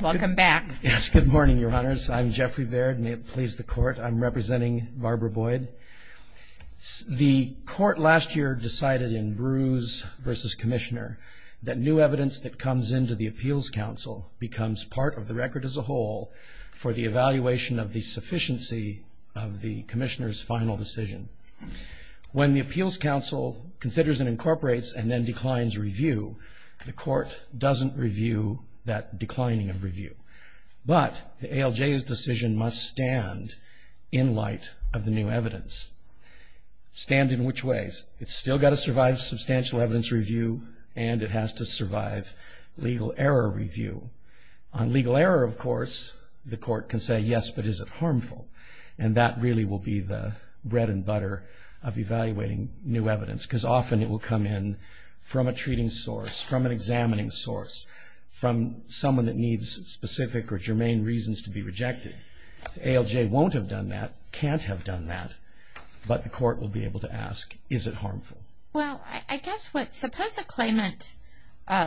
Welcome back. Yes, good morning, Your Honors. I'm Jeffrey Baird. May it please the Court, I'm representing Barbara Boyd. The Court last year decided in Bruce v. Commissioner that new evidence that comes into the Appeals Council becomes part of the record as a whole for the evaluation of the sufficiency of the Commissioner's final decision. When the Appeals Council considers and incorporates and then declines review, the Court doesn't review that declining of review. But the ALJ's decision must stand in light of the new evidence. Stand in which ways? It's still got to survive substantial evidence review, and it has to survive legal error review. On legal error, of course, the Court can say, yes, but is it harmful? And that really will be the bread and butter of evaluating new evidence, because often it will come in from a treating source, from an examining source, from someone that needs specific or germane reasons to be rejected. The ALJ won't have done that, can't have done that, but the Court will be able to ask, is it harmful? Well, I guess what, suppose a claimant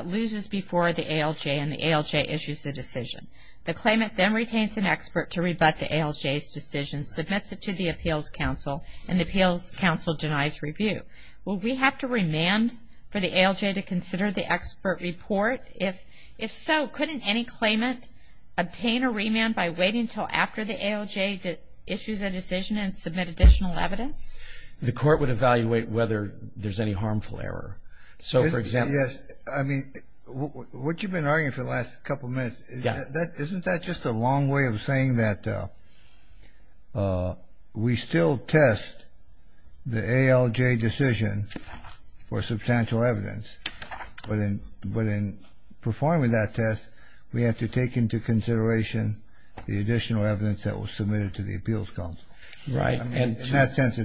loses before the ALJ and the ALJ issues the decision. The claimant then retains an expert to rebut the ALJ's decision, submits it to the Appeals Council, and the Appeals Council denies review. Will we have to remand for the ALJ to consider the expert report? If so, couldn't any claimant obtain a remand by waiting until after the ALJ issues a decision and submit additional evidence? The Court would evaluate whether there's any harmful error. So, for example... Yes, I mean, what you've been arguing for the last couple of minutes, isn't that just a long way of saying that we still test the ALJ decision for substantial evidence? But in performing that test, we have to take into consideration the additional evidence that was submitted to the Appeals Council. In that sense,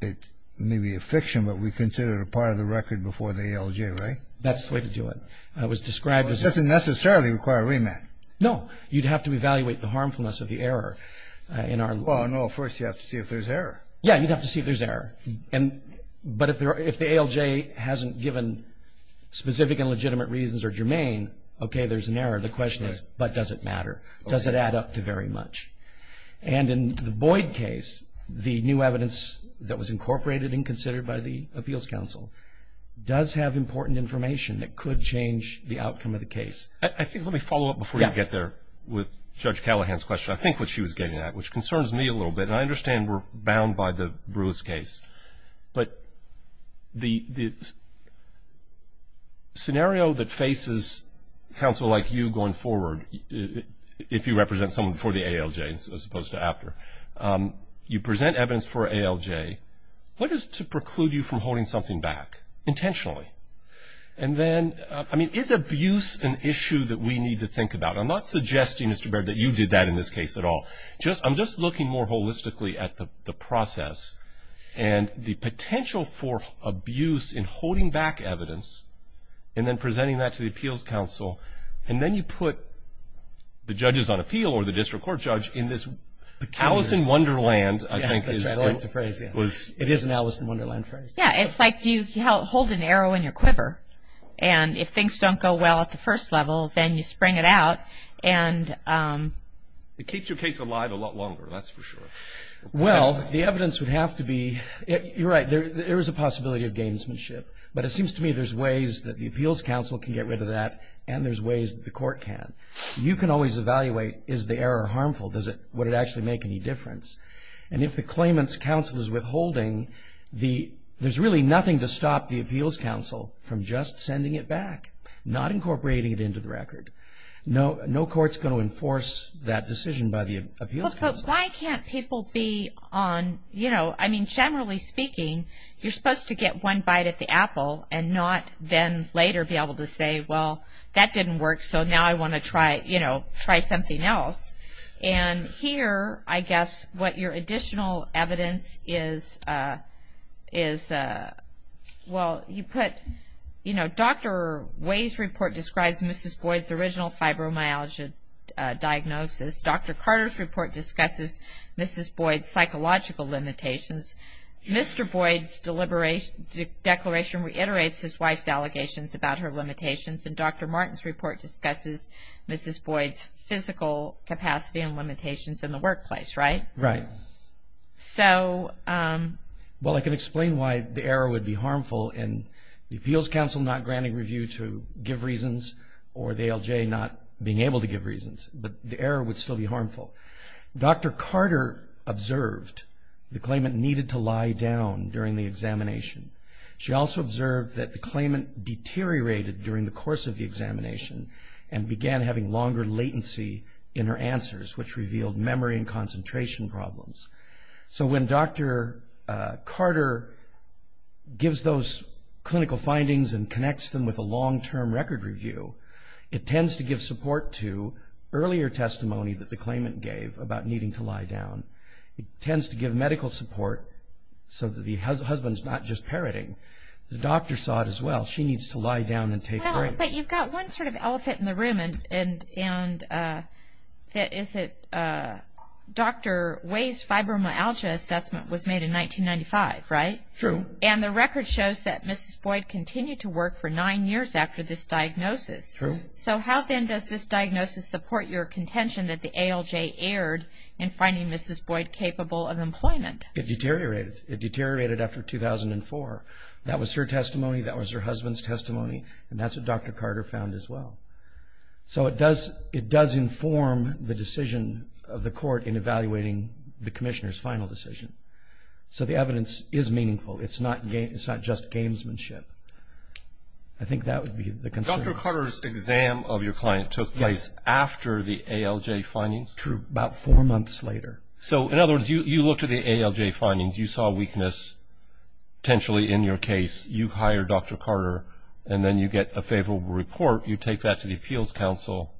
it may be a fiction, but we consider it a part of the record before the ALJ, right? That's the way to do it. It doesn't necessarily require a remand. No, you'd have to evaluate the harmfulness of the error. Well, no, first you have to see if there's error. Yeah, you'd have to see if there's error. But if the ALJ hasn't given specific and legitimate reasons or germane, okay, there's an error. The question is, but does it matter? Does it add up to very much? And in the Boyd case, the new evidence that was incorporated and considered by the Appeals Council does have important information that could change the outcome of the case. I think let me follow up before you get there with Judge Callahan's question. I think what she was getting at, which concerns me a little bit, and I understand we're bound by the Bruce case, but the scenario that faces counsel like you going forward, if you represent someone for the ALJ as opposed to after, you present evidence for ALJ, what is to preclude you from holding something back intentionally? And then, I mean, is abuse an issue that we need to think about? I'm not suggesting, Mr. Baird, that you did that in this case at all. I'm just looking more holistically at the process and the potential for abuse in holding back evidence and then presenting that to the Appeals Council. And then you put the judges on appeal or the district court judge in this Alice in Wonderland, I think. That's a phrase, yeah. It is an Alice in Wonderland phrase. Yeah, it's like you hold an arrow in your quiver, and if things don't go well at the first level, then you spring it out. It keeps your case alive a lot longer, that's for sure. Well, the evidence would have to be, you're right, there is a possibility of gamesmanship. But it seems to me there's ways that the Appeals Council can get rid of that, and there's ways that the court can. You can always evaluate, is the error harmful? Would it actually make any difference? And if the claimant's counsel is withholding, there's really nothing to stop the Appeals Council from just sending it back, not incorporating it into the record. No court's going to enforce that decision by the Appeals Council. But why can't people be on, you know, I mean, generally speaking, you're supposed to get one bite at the apple and not then later be able to say, well, that didn't work, so now I want to try something else. And here, I guess, what your additional evidence is, well, you put, you know, Dr. Way's report describes Mrs. Boyd's original fibromyalgia diagnosis. Dr. Carter's report discusses Mrs. Boyd's psychological limitations. Mr. Boyd's declaration reiterates his wife's allegations about her limitations, and Dr. Martin's report discusses Mrs. Boyd's physical capacity and limitations in the workplace, right? Right. Well, I can explain why the error would be harmful in the Appeals Council not granting review to give reasons or the ALJ not being able to give reasons, but the error would still be harmful. Dr. Carter observed the claimant needed to lie down during the examination. She also observed that the claimant deteriorated during the course of the examination and began having longer latency in her answers, which revealed memory and concentration problems. So when Dr. Carter gives those clinical findings and connects them with a long-term record review, it tends to give support to earlier testimony that the claimant gave about needing to lie down. It tends to give medical support so that the husband's not just parroting. The doctor saw it as well. She needs to lie down and take breaks. But you've got one sort of elephant in the room, and that is that Dr. Way's fibromyalgia assessment was made in 1995, right? True. And the record shows that Mrs. Boyd continued to work for nine years after this diagnosis. True. So how then does this diagnosis support your contention that the ALJ erred in finding Mrs. Boyd capable of employment? It deteriorated. It deteriorated after 2004. That was her testimony. That was her husband's testimony, and that's what Dr. Carter found as well. So it does inform the decision of the court in evaluating the commissioner's final decision. So the evidence is meaningful. It's not just gamesmanship. I think that would be the concern. Dr. Carter's exam of your client took place after the ALJ findings? True, about four months later. So, in other words, you looked at the ALJ findings. You saw weakness potentially in your case. You hire Dr. Carter, and then you get a favorable report. You take that to the Appeals Council.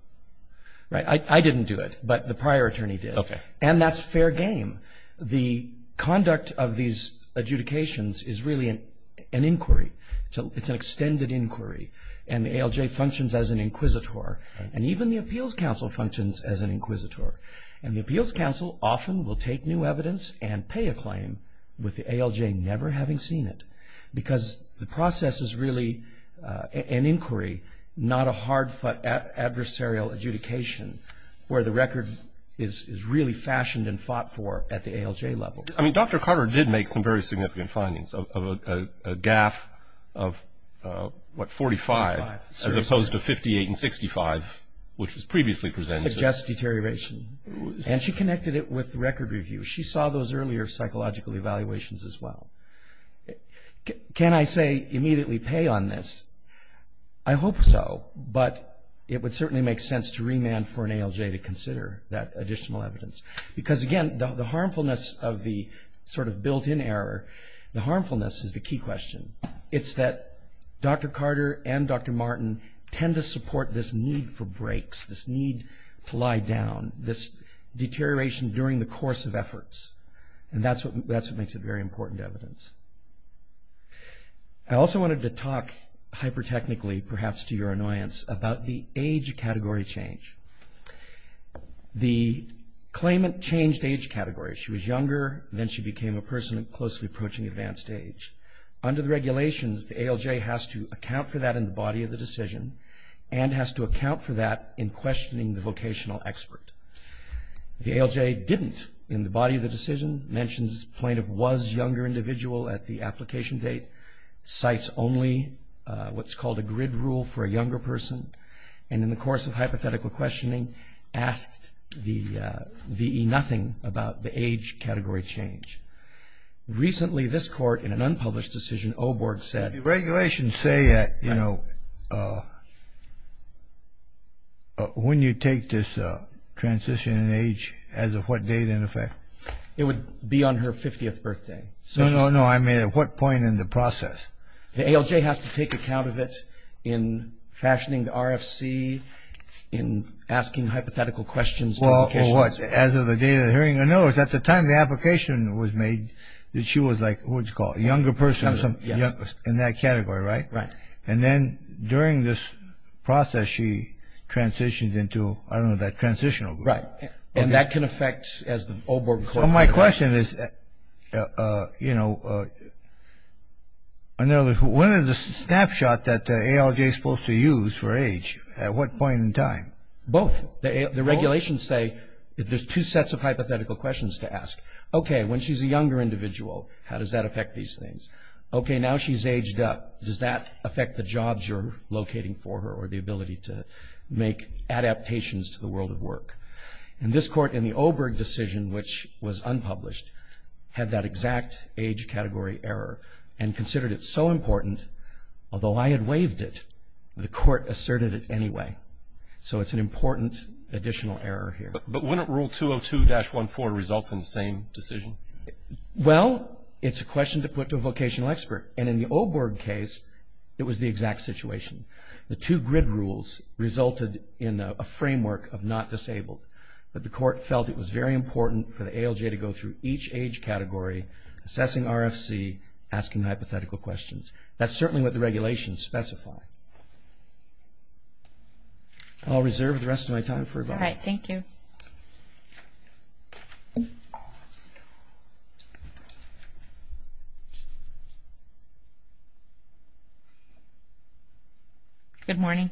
Right. I didn't do it, but the prior attorney did. Okay. And that's fair game. The conduct of these adjudications is really an inquiry. It's an extended inquiry, and the ALJ functions as an inquisitor, and even the Appeals Council functions as an inquisitor. And the Appeals Council often will take new evidence and pay a claim with the ALJ never having seen it because the process is really an inquiry, not a hard-fought adversarial adjudication where the record is really fashioned and fought for at the ALJ level. I mean, Dr. Carter did make some very significant findings of a GAF of, what, 45, as opposed to 58 and 65, which was previously presented to us. Suggest deterioration. And she connected it with record review. She saw those earlier psychological evaluations as well. Can I say immediately pay on this? I hope so, but it would certainly make sense to remand for an ALJ to consider that additional evidence because, again, the harmfulness of the sort of built-in error, the harmfulness is the key question. It's that Dr. Carter and Dr. Martin tend to support this need for breaks, this need to lie down, this deterioration during the course of efforts, and that's what makes it very important evidence. I also wanted to talk hyper-technically, perhaps to your annoyance, about the age category change. The claimant changed age category. She was younger, and then she became a person closely approaching advanced age. Under the regulations, the ALJ has to account for that in the body of the decision and has to account for that in questioning the vocational expert. The ALJ didn't in the body of the decision, mentions plaintiff was younger individual at the application date, cites only what's called a grid rule for a younger person, and in the course of hypothetical questioning asked the VE nothing about the age category change. Recently, this court, in an unpublished decision, OBORG said... The regulations say that, you know, when you take this transition in age, as of what date, in effect? It would be on her 50th birthday. No, no, no, I mean at what point in the process? The ALJ has to take account of it in fashioning the RFC, in asking hypothetical questions... What, as of the date of the hearing? No, it's at the time the application was made that she was like, what do you call it, a younger person in that category, right? Right. And then during this process, she transitioned into, I don't know, that transitional group. Right. And that can affect, as OBORG... So my question is, you know, when is the snapshot that the ALJ is supposed to use for age? At what point in time? Both. Both. The regulations say there's two sets of hypothetical questions to ask. Okay, when she's a younger individual, how does that affect these things? Okay, now she's aged up, does that affect the jobs you're locating for her or the ability to make adaptations to the world of work? And this court, in the OBORG decision, which was unpublished, had that exact age category error and considered it so important, although I had waived it, the court asserted it anyway. So it's an important additional error here. But wouldn't Rule 202-14 result in the same decision? Well, it's a question to put to a vocational expert. And in the OBORG case, it was the exact situation. The two grid rules resulted in a framework of not disabled. But the court felt it was very important for the ALJ to go through each age category, assessing RFC, asking hypothetical questions. That's certainly what the regulations specify. I'll reserve the rest of my time for about a minute. All right, thank you. Good morning.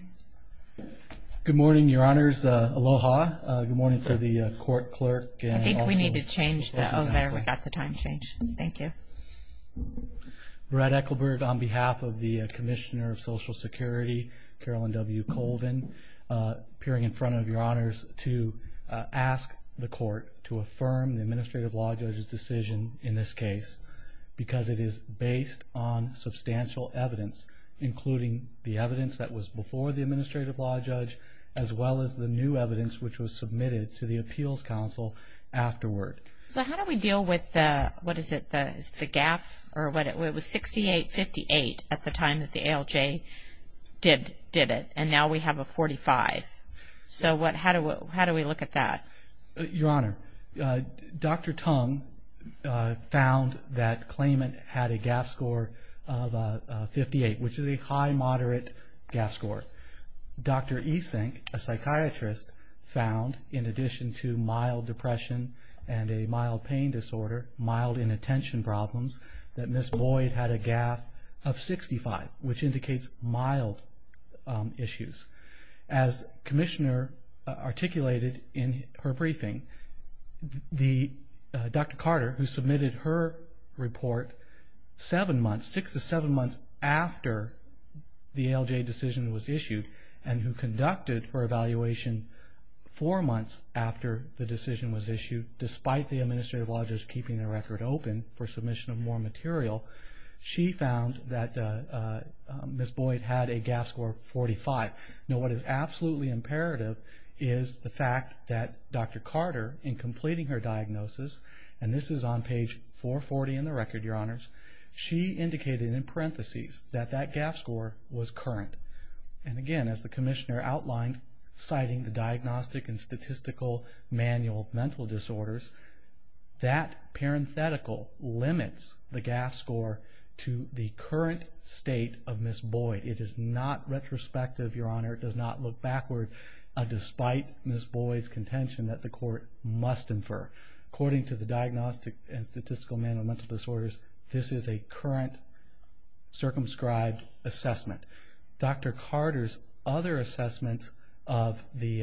Good morning, Your Honors. Aloha. Good morning to the court clerk. I think we need to change that over. We've got the time change. Thank you. Brad Ekelberg, on behalf of the Commissioner of Social Security, Carolyn W. Colvin, appearing in front of Your Honors, to ask the court to affirm the Administrative Law Judge's decision in this case because it is based on substantial evidence, including the evidence that was before the Administrative Law Judge, as well as the new evidence which was submitted to the Appeals Council afterward. So how do we deal with the, what is it, the GAF? It was 68-58 at the time that the ALJ did it, and now we have a 45. So how do we look at that? Your Honor, Dr. Tung found that claimant had a GAF score of 58, which is a high-moderate GAF score. Dr. Esink, a psychiatrist, found, in addition to mild depression and a mild pain disorder, mild inattention problems, that Ms. Boyd had a GAF of 65, which indicates mild issues. As Commissioner articulated in her briefing, Dr. Carter, who submitted her report seven months, six to seven months after the ALJ decision was issued, and who conducted her evaluation four months after the decision was issued, despite the Administrative Law Judge keeping the record open for submission of more material, she found that Ms. Boyd had a GAF score of 45. Now what is absolutely imperative is the fact that Dr. Carter, in completing her diagnosis, and this is on page 440 in the record, Your Honors, she indicated in parentheses that that GAF score was current. And again, as the Commissioner outlined, citing the Diagnostic and Statistical Manual of Mental Disorders, that parenthetical limits the GAF score to the current state of Ms. Boyd. It is not retrospective, Your Honor. It does not look backward, despite Ms. Boyd's contention that the Court must infer. According to the Diagnostic and Statistical Manual of Mental Disorders, this is a current circumscribed assessment. Dr. Carter's other assessment of the –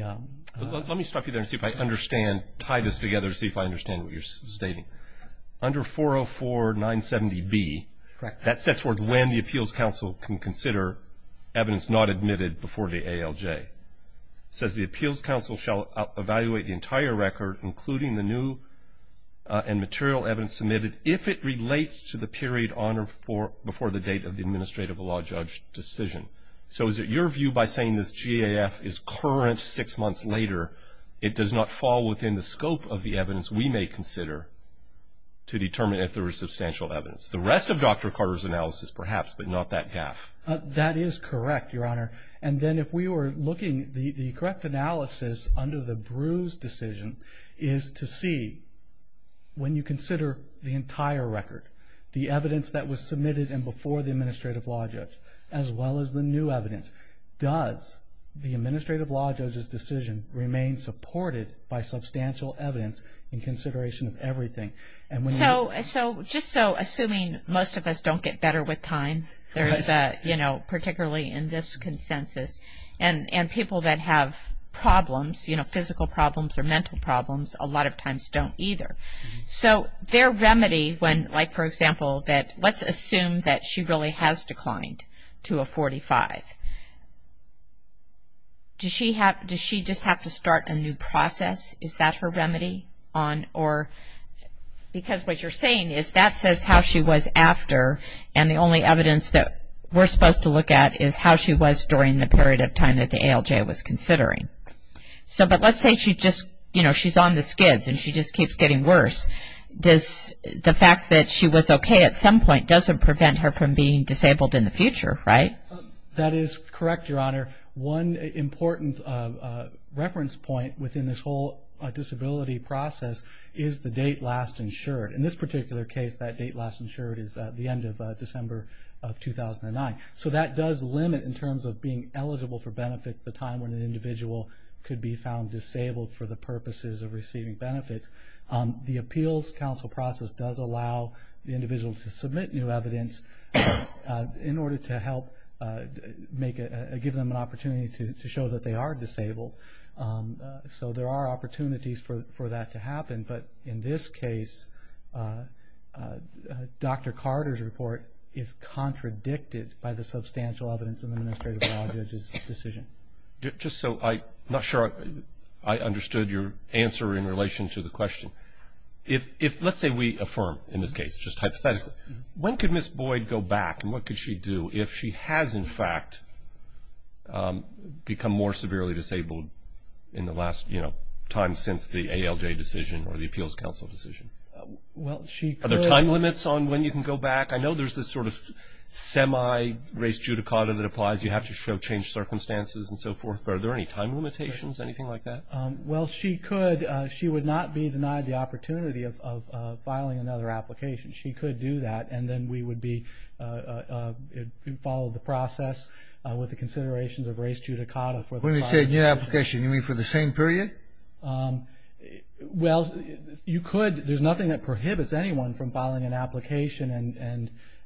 Let me stop you there and tie this together to see if I understand what you're stating. Under 404970B, that sets forth when the Appeals Council can consider evidence not admitted before the ALJ. It says the Appeals Council shall evaluate the entire record, including the new and material evidence submitted, if it relates to the period on or before the date of the administrative law judge decision. So is it your view by saying this GAF is current six months later, it does not fall within the scope of the evidence we may consider to determine if there is substantial evidence? The rest of Dr. Carter's analysis, perhaps, but not that GAF. That is correct, Your Honor. And then if we were looking, the correct analysis under the Bruce decision is to see when you consider the entire record, the evidence that was submitted and before the administrative law judge, as well as the new evidence, does the administrative law judge's decision remain supported by substantial evidence in consideration of everything? So just so, assuming most of us don't get better with time, particularly in this consensus, and people that have problems, physical problems or mental problems, a lot of times don't either. So their remedy, like for example, let's assume that she really has declined to a 45. Does she just have to start a new process? Is that her remedy? Because what you're saying is that says how she was after, and the only evidence that we're supposed to look at is how she was during the period of time that the ALJ was considering. But let's say she's on the skids and she just keeps getting worse. The fact that she was okay at some point doesn't prevent her from being disabled in the future, right? That is correct, Your Honor. One important reference point within this whole disability process is the date last insured. In this particular case, that date last insured is the end of December of 2009. So that does limit in terms of being eligible for benefits the time when an individual could be found disabled for the purposes of receiving benefits. The Appeals Council process does allow the individual to submit new evidence in order to help give them an opportunity to show that they are disabled. So there are opportunities for that to happen. But in this case, Dr. Carter's report is contradicted by the substantial evidence of an administrative law judge's decision. Just so I'm not sure I understood your answer in relation to the question. Let's say we affirm in this case, just hypothetically, when could Ms. Boyd go back and what could she do if she has, in fact, become more severely disabled in the last time since the ALJ decision or the Appeals Council decision? Are there time limits on when you can go back? I know there's this sort of semi-race judicata that applies. You have to show changed circumstances and so forth. Are there any time limitations, anything like that? Well, she could. She would not be denied the opportunity of filing another application. She could do that, and then we would follow the process with the considerations of race judicata. When you say new application, you mean for the same period? Well, you could. There's nothing that prohibits anyone from filing an application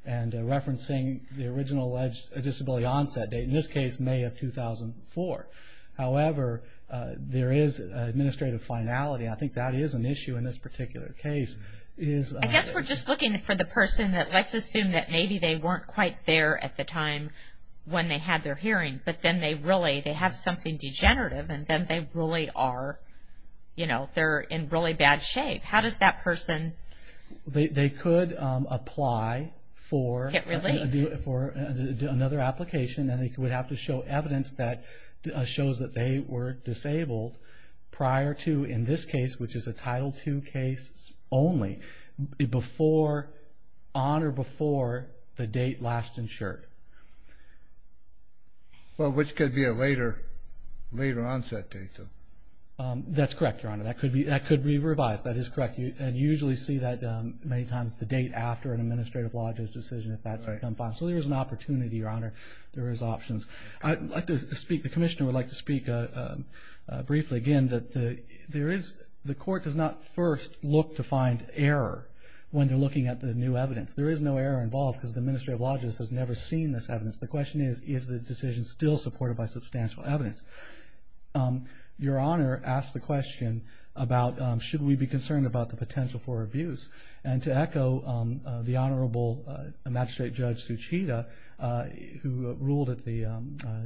and referencing the original disability onset date, in this case, May of 2004. However, there is an administrative finality, and I think that is an issue in this particular case. I guess we're just looking for the person that let's assume that maybe they weren't quite there at the time when they had their hearing, but then they really have something degenerative, and then they're in really bad shape. How does that person get relief? They could apply for another application, and they would have to show evidence that shows that they were disabled prior to, in this case, which is a Title II case only, before, on or before the date last insured. Well, which could be a later onset date, though. That's correct, Your Honor. That could be revised. That is correct, and you usually see that many times the date after an administrative lodges decision, if that's become final. So there is an opportunity, Your Honor. There is options. The Commissioner would like to speak briefly, again, that the court does not first look to find error when they're looking at the new evidence. There is no error involved because the administrative lodges has never seen this evidence. The question is, is the decision still supported by substantial evidence? Your Honor asked the question about should we be concerned about the potential for abuse, and to echo the Honorable Magistrate Judge Suchida, who ruled at the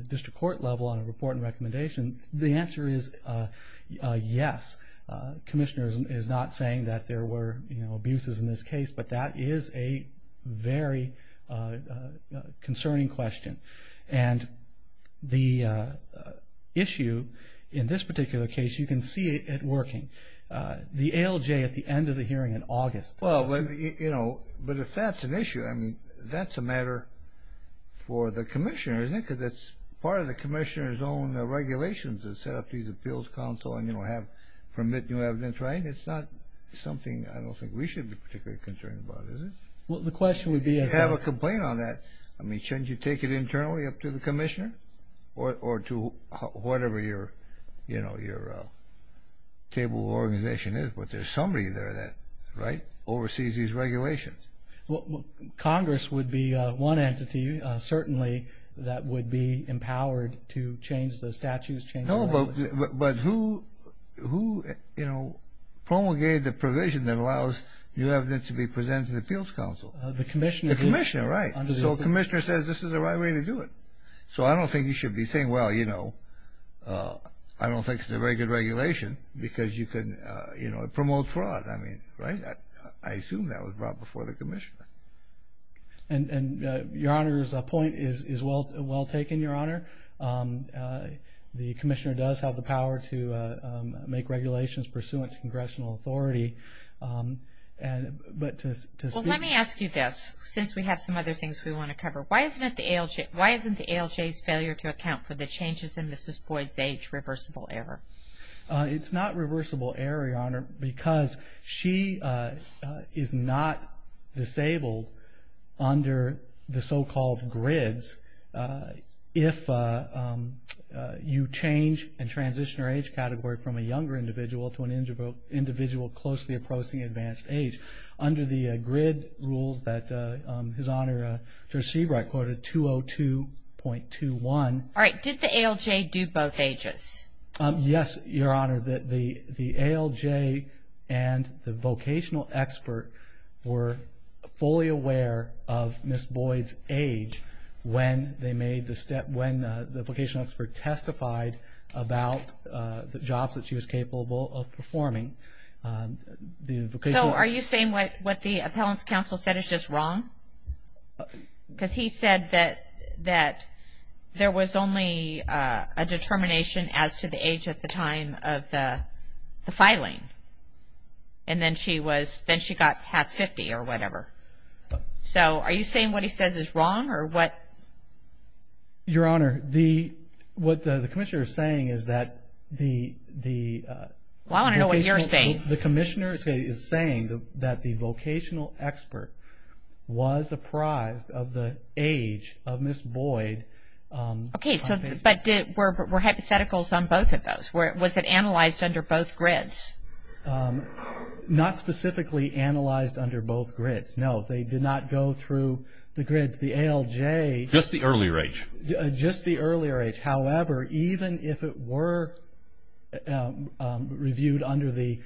district court level on a report and recommendation, the answer is yes. The Commissioner is not saying that there were abuses in this case, but that is a very concerning question. And the issue in this particular case, you can see it working. The ALJ at the end of the hearing in August. Well, you know, but if that's an issue, I mean, that's a matter for the Commissioner, isn't it? Because that's part of the Commissioner's own regulations that set up these appeals council and, you know, have permit new evidence, right? It's not something I don't think we should be particularly concerned about, is it? Well, the question would be if you have a complaint on that, or to whatever your, you know, your table of organization is, but there's somebody there that, right, oversees these regulations. Well, Congress would be one entity, certainly, that would be empowered to change the statutes, change the language. No, but who, you know, promulgated the provision that allows new evidence to be presented to the appeals council? The Commissioner. The Commissioner, right. So the Commissioner says this is the right way to do it. So I don't think you should be saying, well, you know, I don't think it's a very good regulation because you can, you know, promote fraud. I mean, right? I assume that was brought before the Commissioner. And Your Honor's point is well taken, Your Honor. The Commissioner does have the power to make regulations pursuant to Congressional authority. But to speak to this. Well, let me ask you this, since we have some other things we want to cover. Why isn't the ALJ's failure to account for the changes in Mrs. Boyd's age reversible error? It's not reversible error, Your Honor, because she is not disabled under the so-called grids if you change and transition her age category from a younger individual to an individual closely approaching advanced age. Under the grid rules that His Honor, Judge Seabright quoted 202.21. All right. Did the ALJ do both ages? Yes, Your Honor. The ALJ and the vocational expert were fully aware of Mrs. Boyd's age when the vocational expert testified about the jobs that she was capable of performing. So are you saying what the appellant's counsel said is just wrong? Because he said that there was only a determination as to the age at the time of the filing. And then she got past 50 or whatever. So are you saying what he says is wrong? Your Honor, what the Commissioner is saying is that the vocational expert The Commissioner is saying that the vocational expert was apprised of the age of Mrs. Boyd. Okay. But were hypotheticals on both of those? Was it analyzed under both grids? Not specifically analyzed under both grids, no. They did not go through the grids. The ALJ Just the earlier age. Just the earlier age. However, even if it were reviewed under the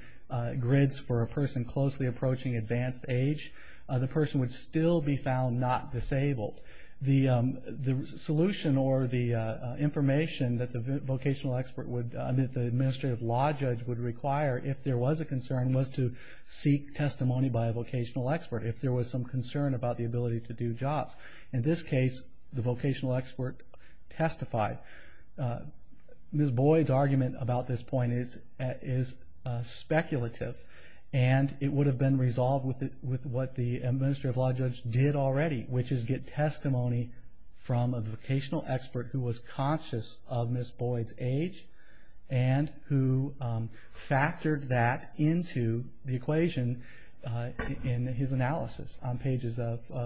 grids for a person closely approaching advanced age, the person would still be found not disabled. The solution or the information that the vocational expert would that the administrative law judge would require, if there was a concern, was to seek testimony by a vocational expert if there was some concern about the ability to do jobs. In this case, the vocational expert testified. Ms. Boyd's argument about this point is speculative. And it would have been resolved with what the administrative law judge did already, which is get testimony from a vocational expert who was conscious of Ms. Boyd's age and who factored that into the equation in his analysis on pages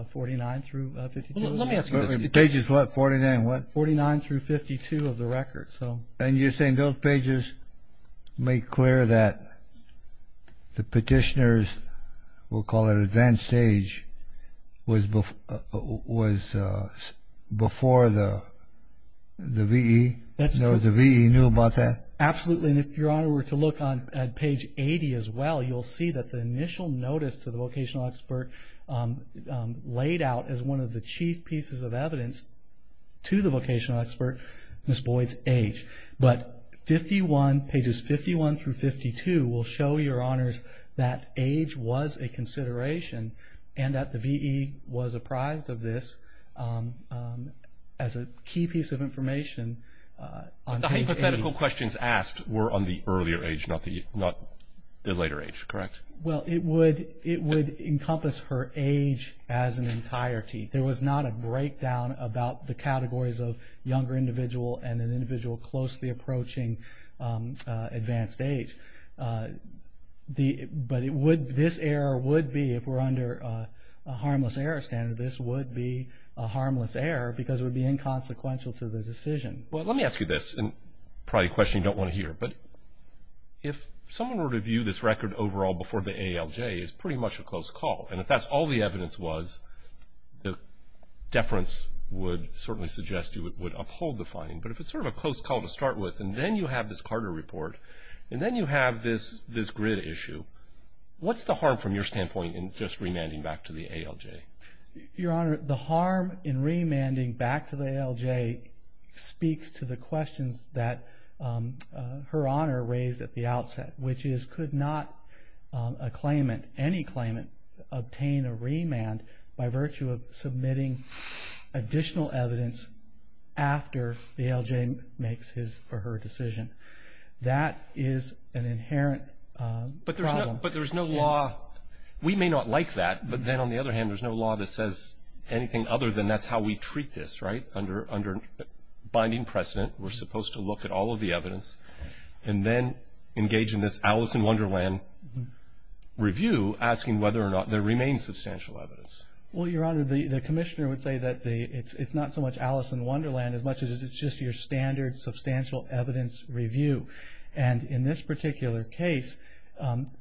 49 through 52. Let me ask you this. Pages what, 49 what? 49 through 52 of the record. And you're saying those pages make clear that the petitioners, we'll call it advanced age, was before the V.E.? The V.E. knew about that? Absolutely. And if Your Honor were to look at page 80 as well, you'll see that the initial notice to the vocational expert laid out as one of the chief pieces of evidence to the vocational expert, Ms. Boyd's age. But 51, pages 51 through 52, will show Your Honors that age was a consideration and that the V.E. was apprised of this as a key piece of information on page 80. But the hypothetical questions asked were on the earlier age, not the later age, correct? Well, it would encompass her age as an entirety. There was not a breakdown about the categories of younger individual and an individual closely approaching advanced age. But this error would be, if we're under a harmless error standard, this would be a harmless error because it would be inconsequential to the decision. Well, let me ask you this, and probably a question you don't want to hear. But if someone were to view this record overall before the ALJ, it's pretty much a close call. And if that's all the evidence was, the deference would certainly suggest you would uphold the finding. But if it's sort of a close call to start with, and then you have this Carter report, and then you have this grid issue, what's the harm from your standpoint in just remanding back to the ALJ? Your Honor, the harm in remanding back to the ALJ speaks to the questions that Her Honor raised at the outset, which is could not a claimant, any claimant, obtain a remand by virtue of submitting additional evidence after the ALJ makes his or her decision. That is an inherent problem. But there's no law. We may not like that, but then on the other hand, there's no law that says anything other than that's how we treat this, right, under binding precedent. We're supposed to look at all of the evidence and then engage in this Alice in Wonderland review, asking whether or not there remains substantial evidence. Well, Your Honor, the Commissioner would say that it's not so much Alice in Wonderland as much as it's just your standard substantial evidence review. And in this particular case,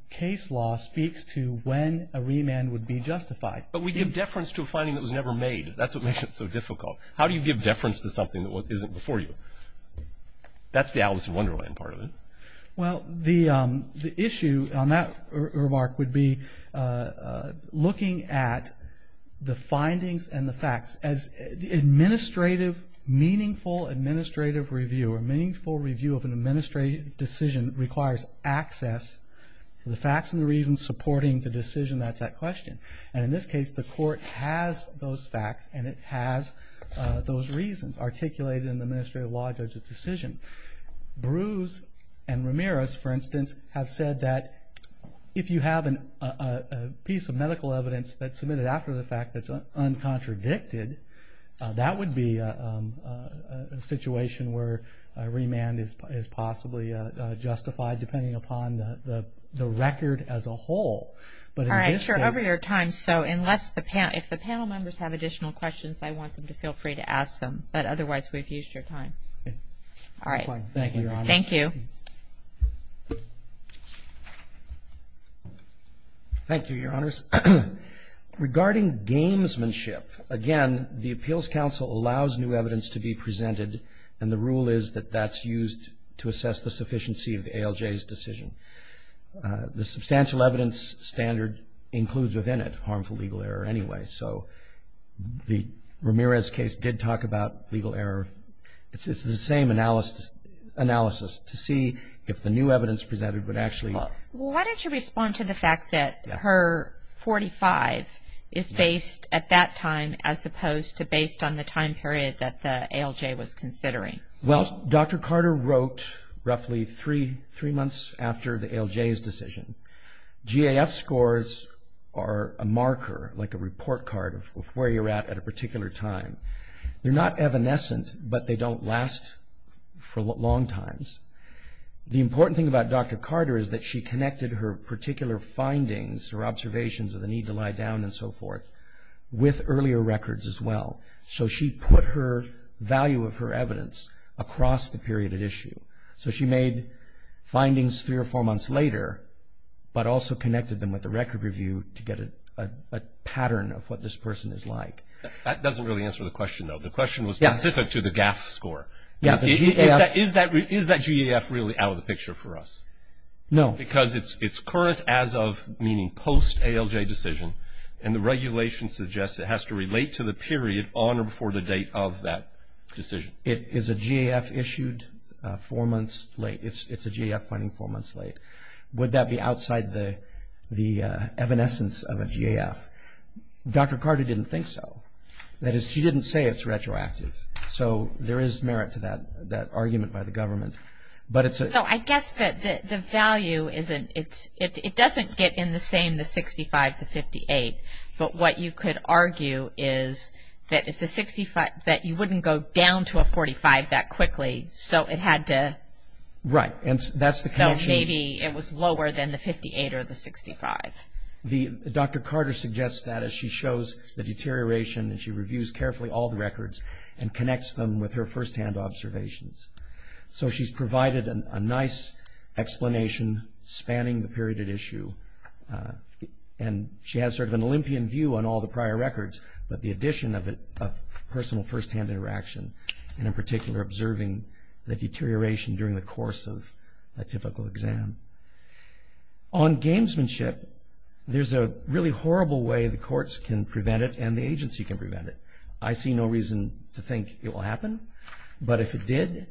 case law speaks to when a remand would be justified. But we give deference to a finding that was never made. That's what makes it so difficult. How do you give deference to something that isn't before you? That's the Alice in Wonderland part of it. Well, the issue on that remark would be looking at the findings and the facts as administrative, meaningful administrative review or meaningful review of an administrative decision requires access to the facts and the reasons supporting the decision that's at question. And in this case, the Court has those facts, and it has those reasons articulated in the administrative law judge's decision. Bruce and Ramirez, for instance, have said that if you have a piece of medical evidence that's submitted after the fact that's uncontradicted, that would be a situation where a remand is possibly justified, depending upon the record as a whole. All right, sure, over your time. So if the panel members have additional questions, I want them to feel free to ask them. But otherwise, we've used your time. All right. Thank you, Your Honors. Thank you. Thank you, Your Honors. Regarding gamesmanship, again, the Appeals Council allows new evidence to be presented, and the rule is that that's used to assess the sufficiency of the ALJ's decision. The substantial evidence standard includes within it harmful legal error anyway, so the Ramirez case did talk about legal error. It's the same analysis to see if the new evidence presented would actually work. Well, why don't you respond to the fact that HER-45 is based at that time as opposed to based on the time period that the ALJ was considering? Well, Dr. Carter wrote roughly three months after the ALJ's decision. GAF scores are a marker, like a report card, of where you're at at a particular time. They're not evanescent, but they don't last for long times. The important thing about Dr. Carter is that she connected her particular findings or observations of the need to lie down and so forth with earlier records as well. So she put her value of her evidence across the period at issue. So she made findings three or four months later, but also connected them with the record review to get a pattern of what this person is like. That doesn't really answer the question, though. The question was specific to the GAF score. Is that GAF really out of the picture for us? No. Because it's current as of, meaning post-ALJ decision, and the regulation suggests it has to relate to the period on or before the date of that decision. Is a GAF issued four months late? It's a GAF finding four months late. Would that be outside the evanescence of a GAF? Dr. Carter didn't think so. That is, she didn't say it's retroactive. So there is merit to that argument by the government. So I guess the value, it doesn't get in the same, the 65 to 58, but what you could argue is that you wouldn't go down to a 45 that quickly, so it had to... Right. So maybe it was lower than the 58 or the 65. Dr. Carter suggests that as she shows the deterioration, and she reviews carefully all the records and connects them with her firsthand observations. So she's provided a nice explanation spanning the period at issue, and she has sort of an Olympian view on all the prior records, but the addition of personal firsthand interaction, and in particular observing the deterioration during the course of a typical exam. On gamesmanship, there's a really horrible way the courts can prevent it and the agency can prevent it. I see no reason to think it will happen, but if it did,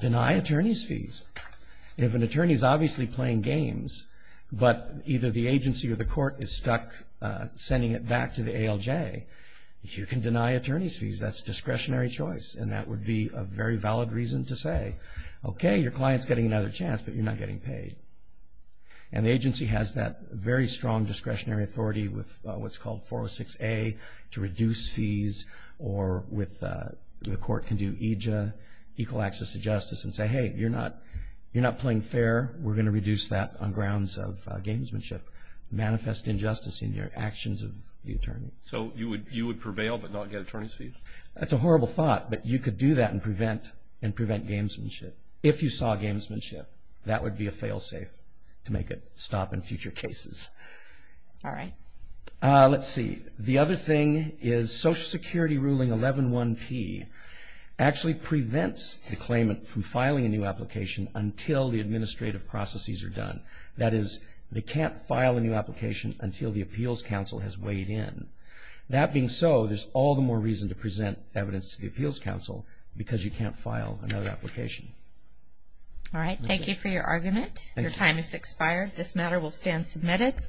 deny attorney's fees. If an attorney is obviously playing games, but either the agency or the court is stuck sending it back to the ALJ, you can deny attorney's fees. That's discretionary choice, and that would be a very valid reason to say, okay, your client's getting another chance, but you're not getting paid. And the agency has that very strong discretionary authority with what's called 406A to reduce fees, or the court can do EJA, equal access to justice, and say, hey, you're not playing fair. We're going to reduce that on grounds of gamesmanship. Manifest injustice in your actions of the attorney. So you would prevail but not get attorney's fees? That's a horrible thought, but you could do that and prevent gamesmanship. If you saw gamesmanship, that would be a fail-safe to make it stop in future cases. All right. Let's see. The other thing is Social Security Ruling 111P actually prevents the claimant from filing a new application until the administrative processes are done. That is, they can't file a new application until the appeals counsel has weighed in. That being so, there's all the more reason to present evidence to the appeals counsel because you can't file another application. All right. Thank you for your argument. Your time has expired. This matter will stand submitted.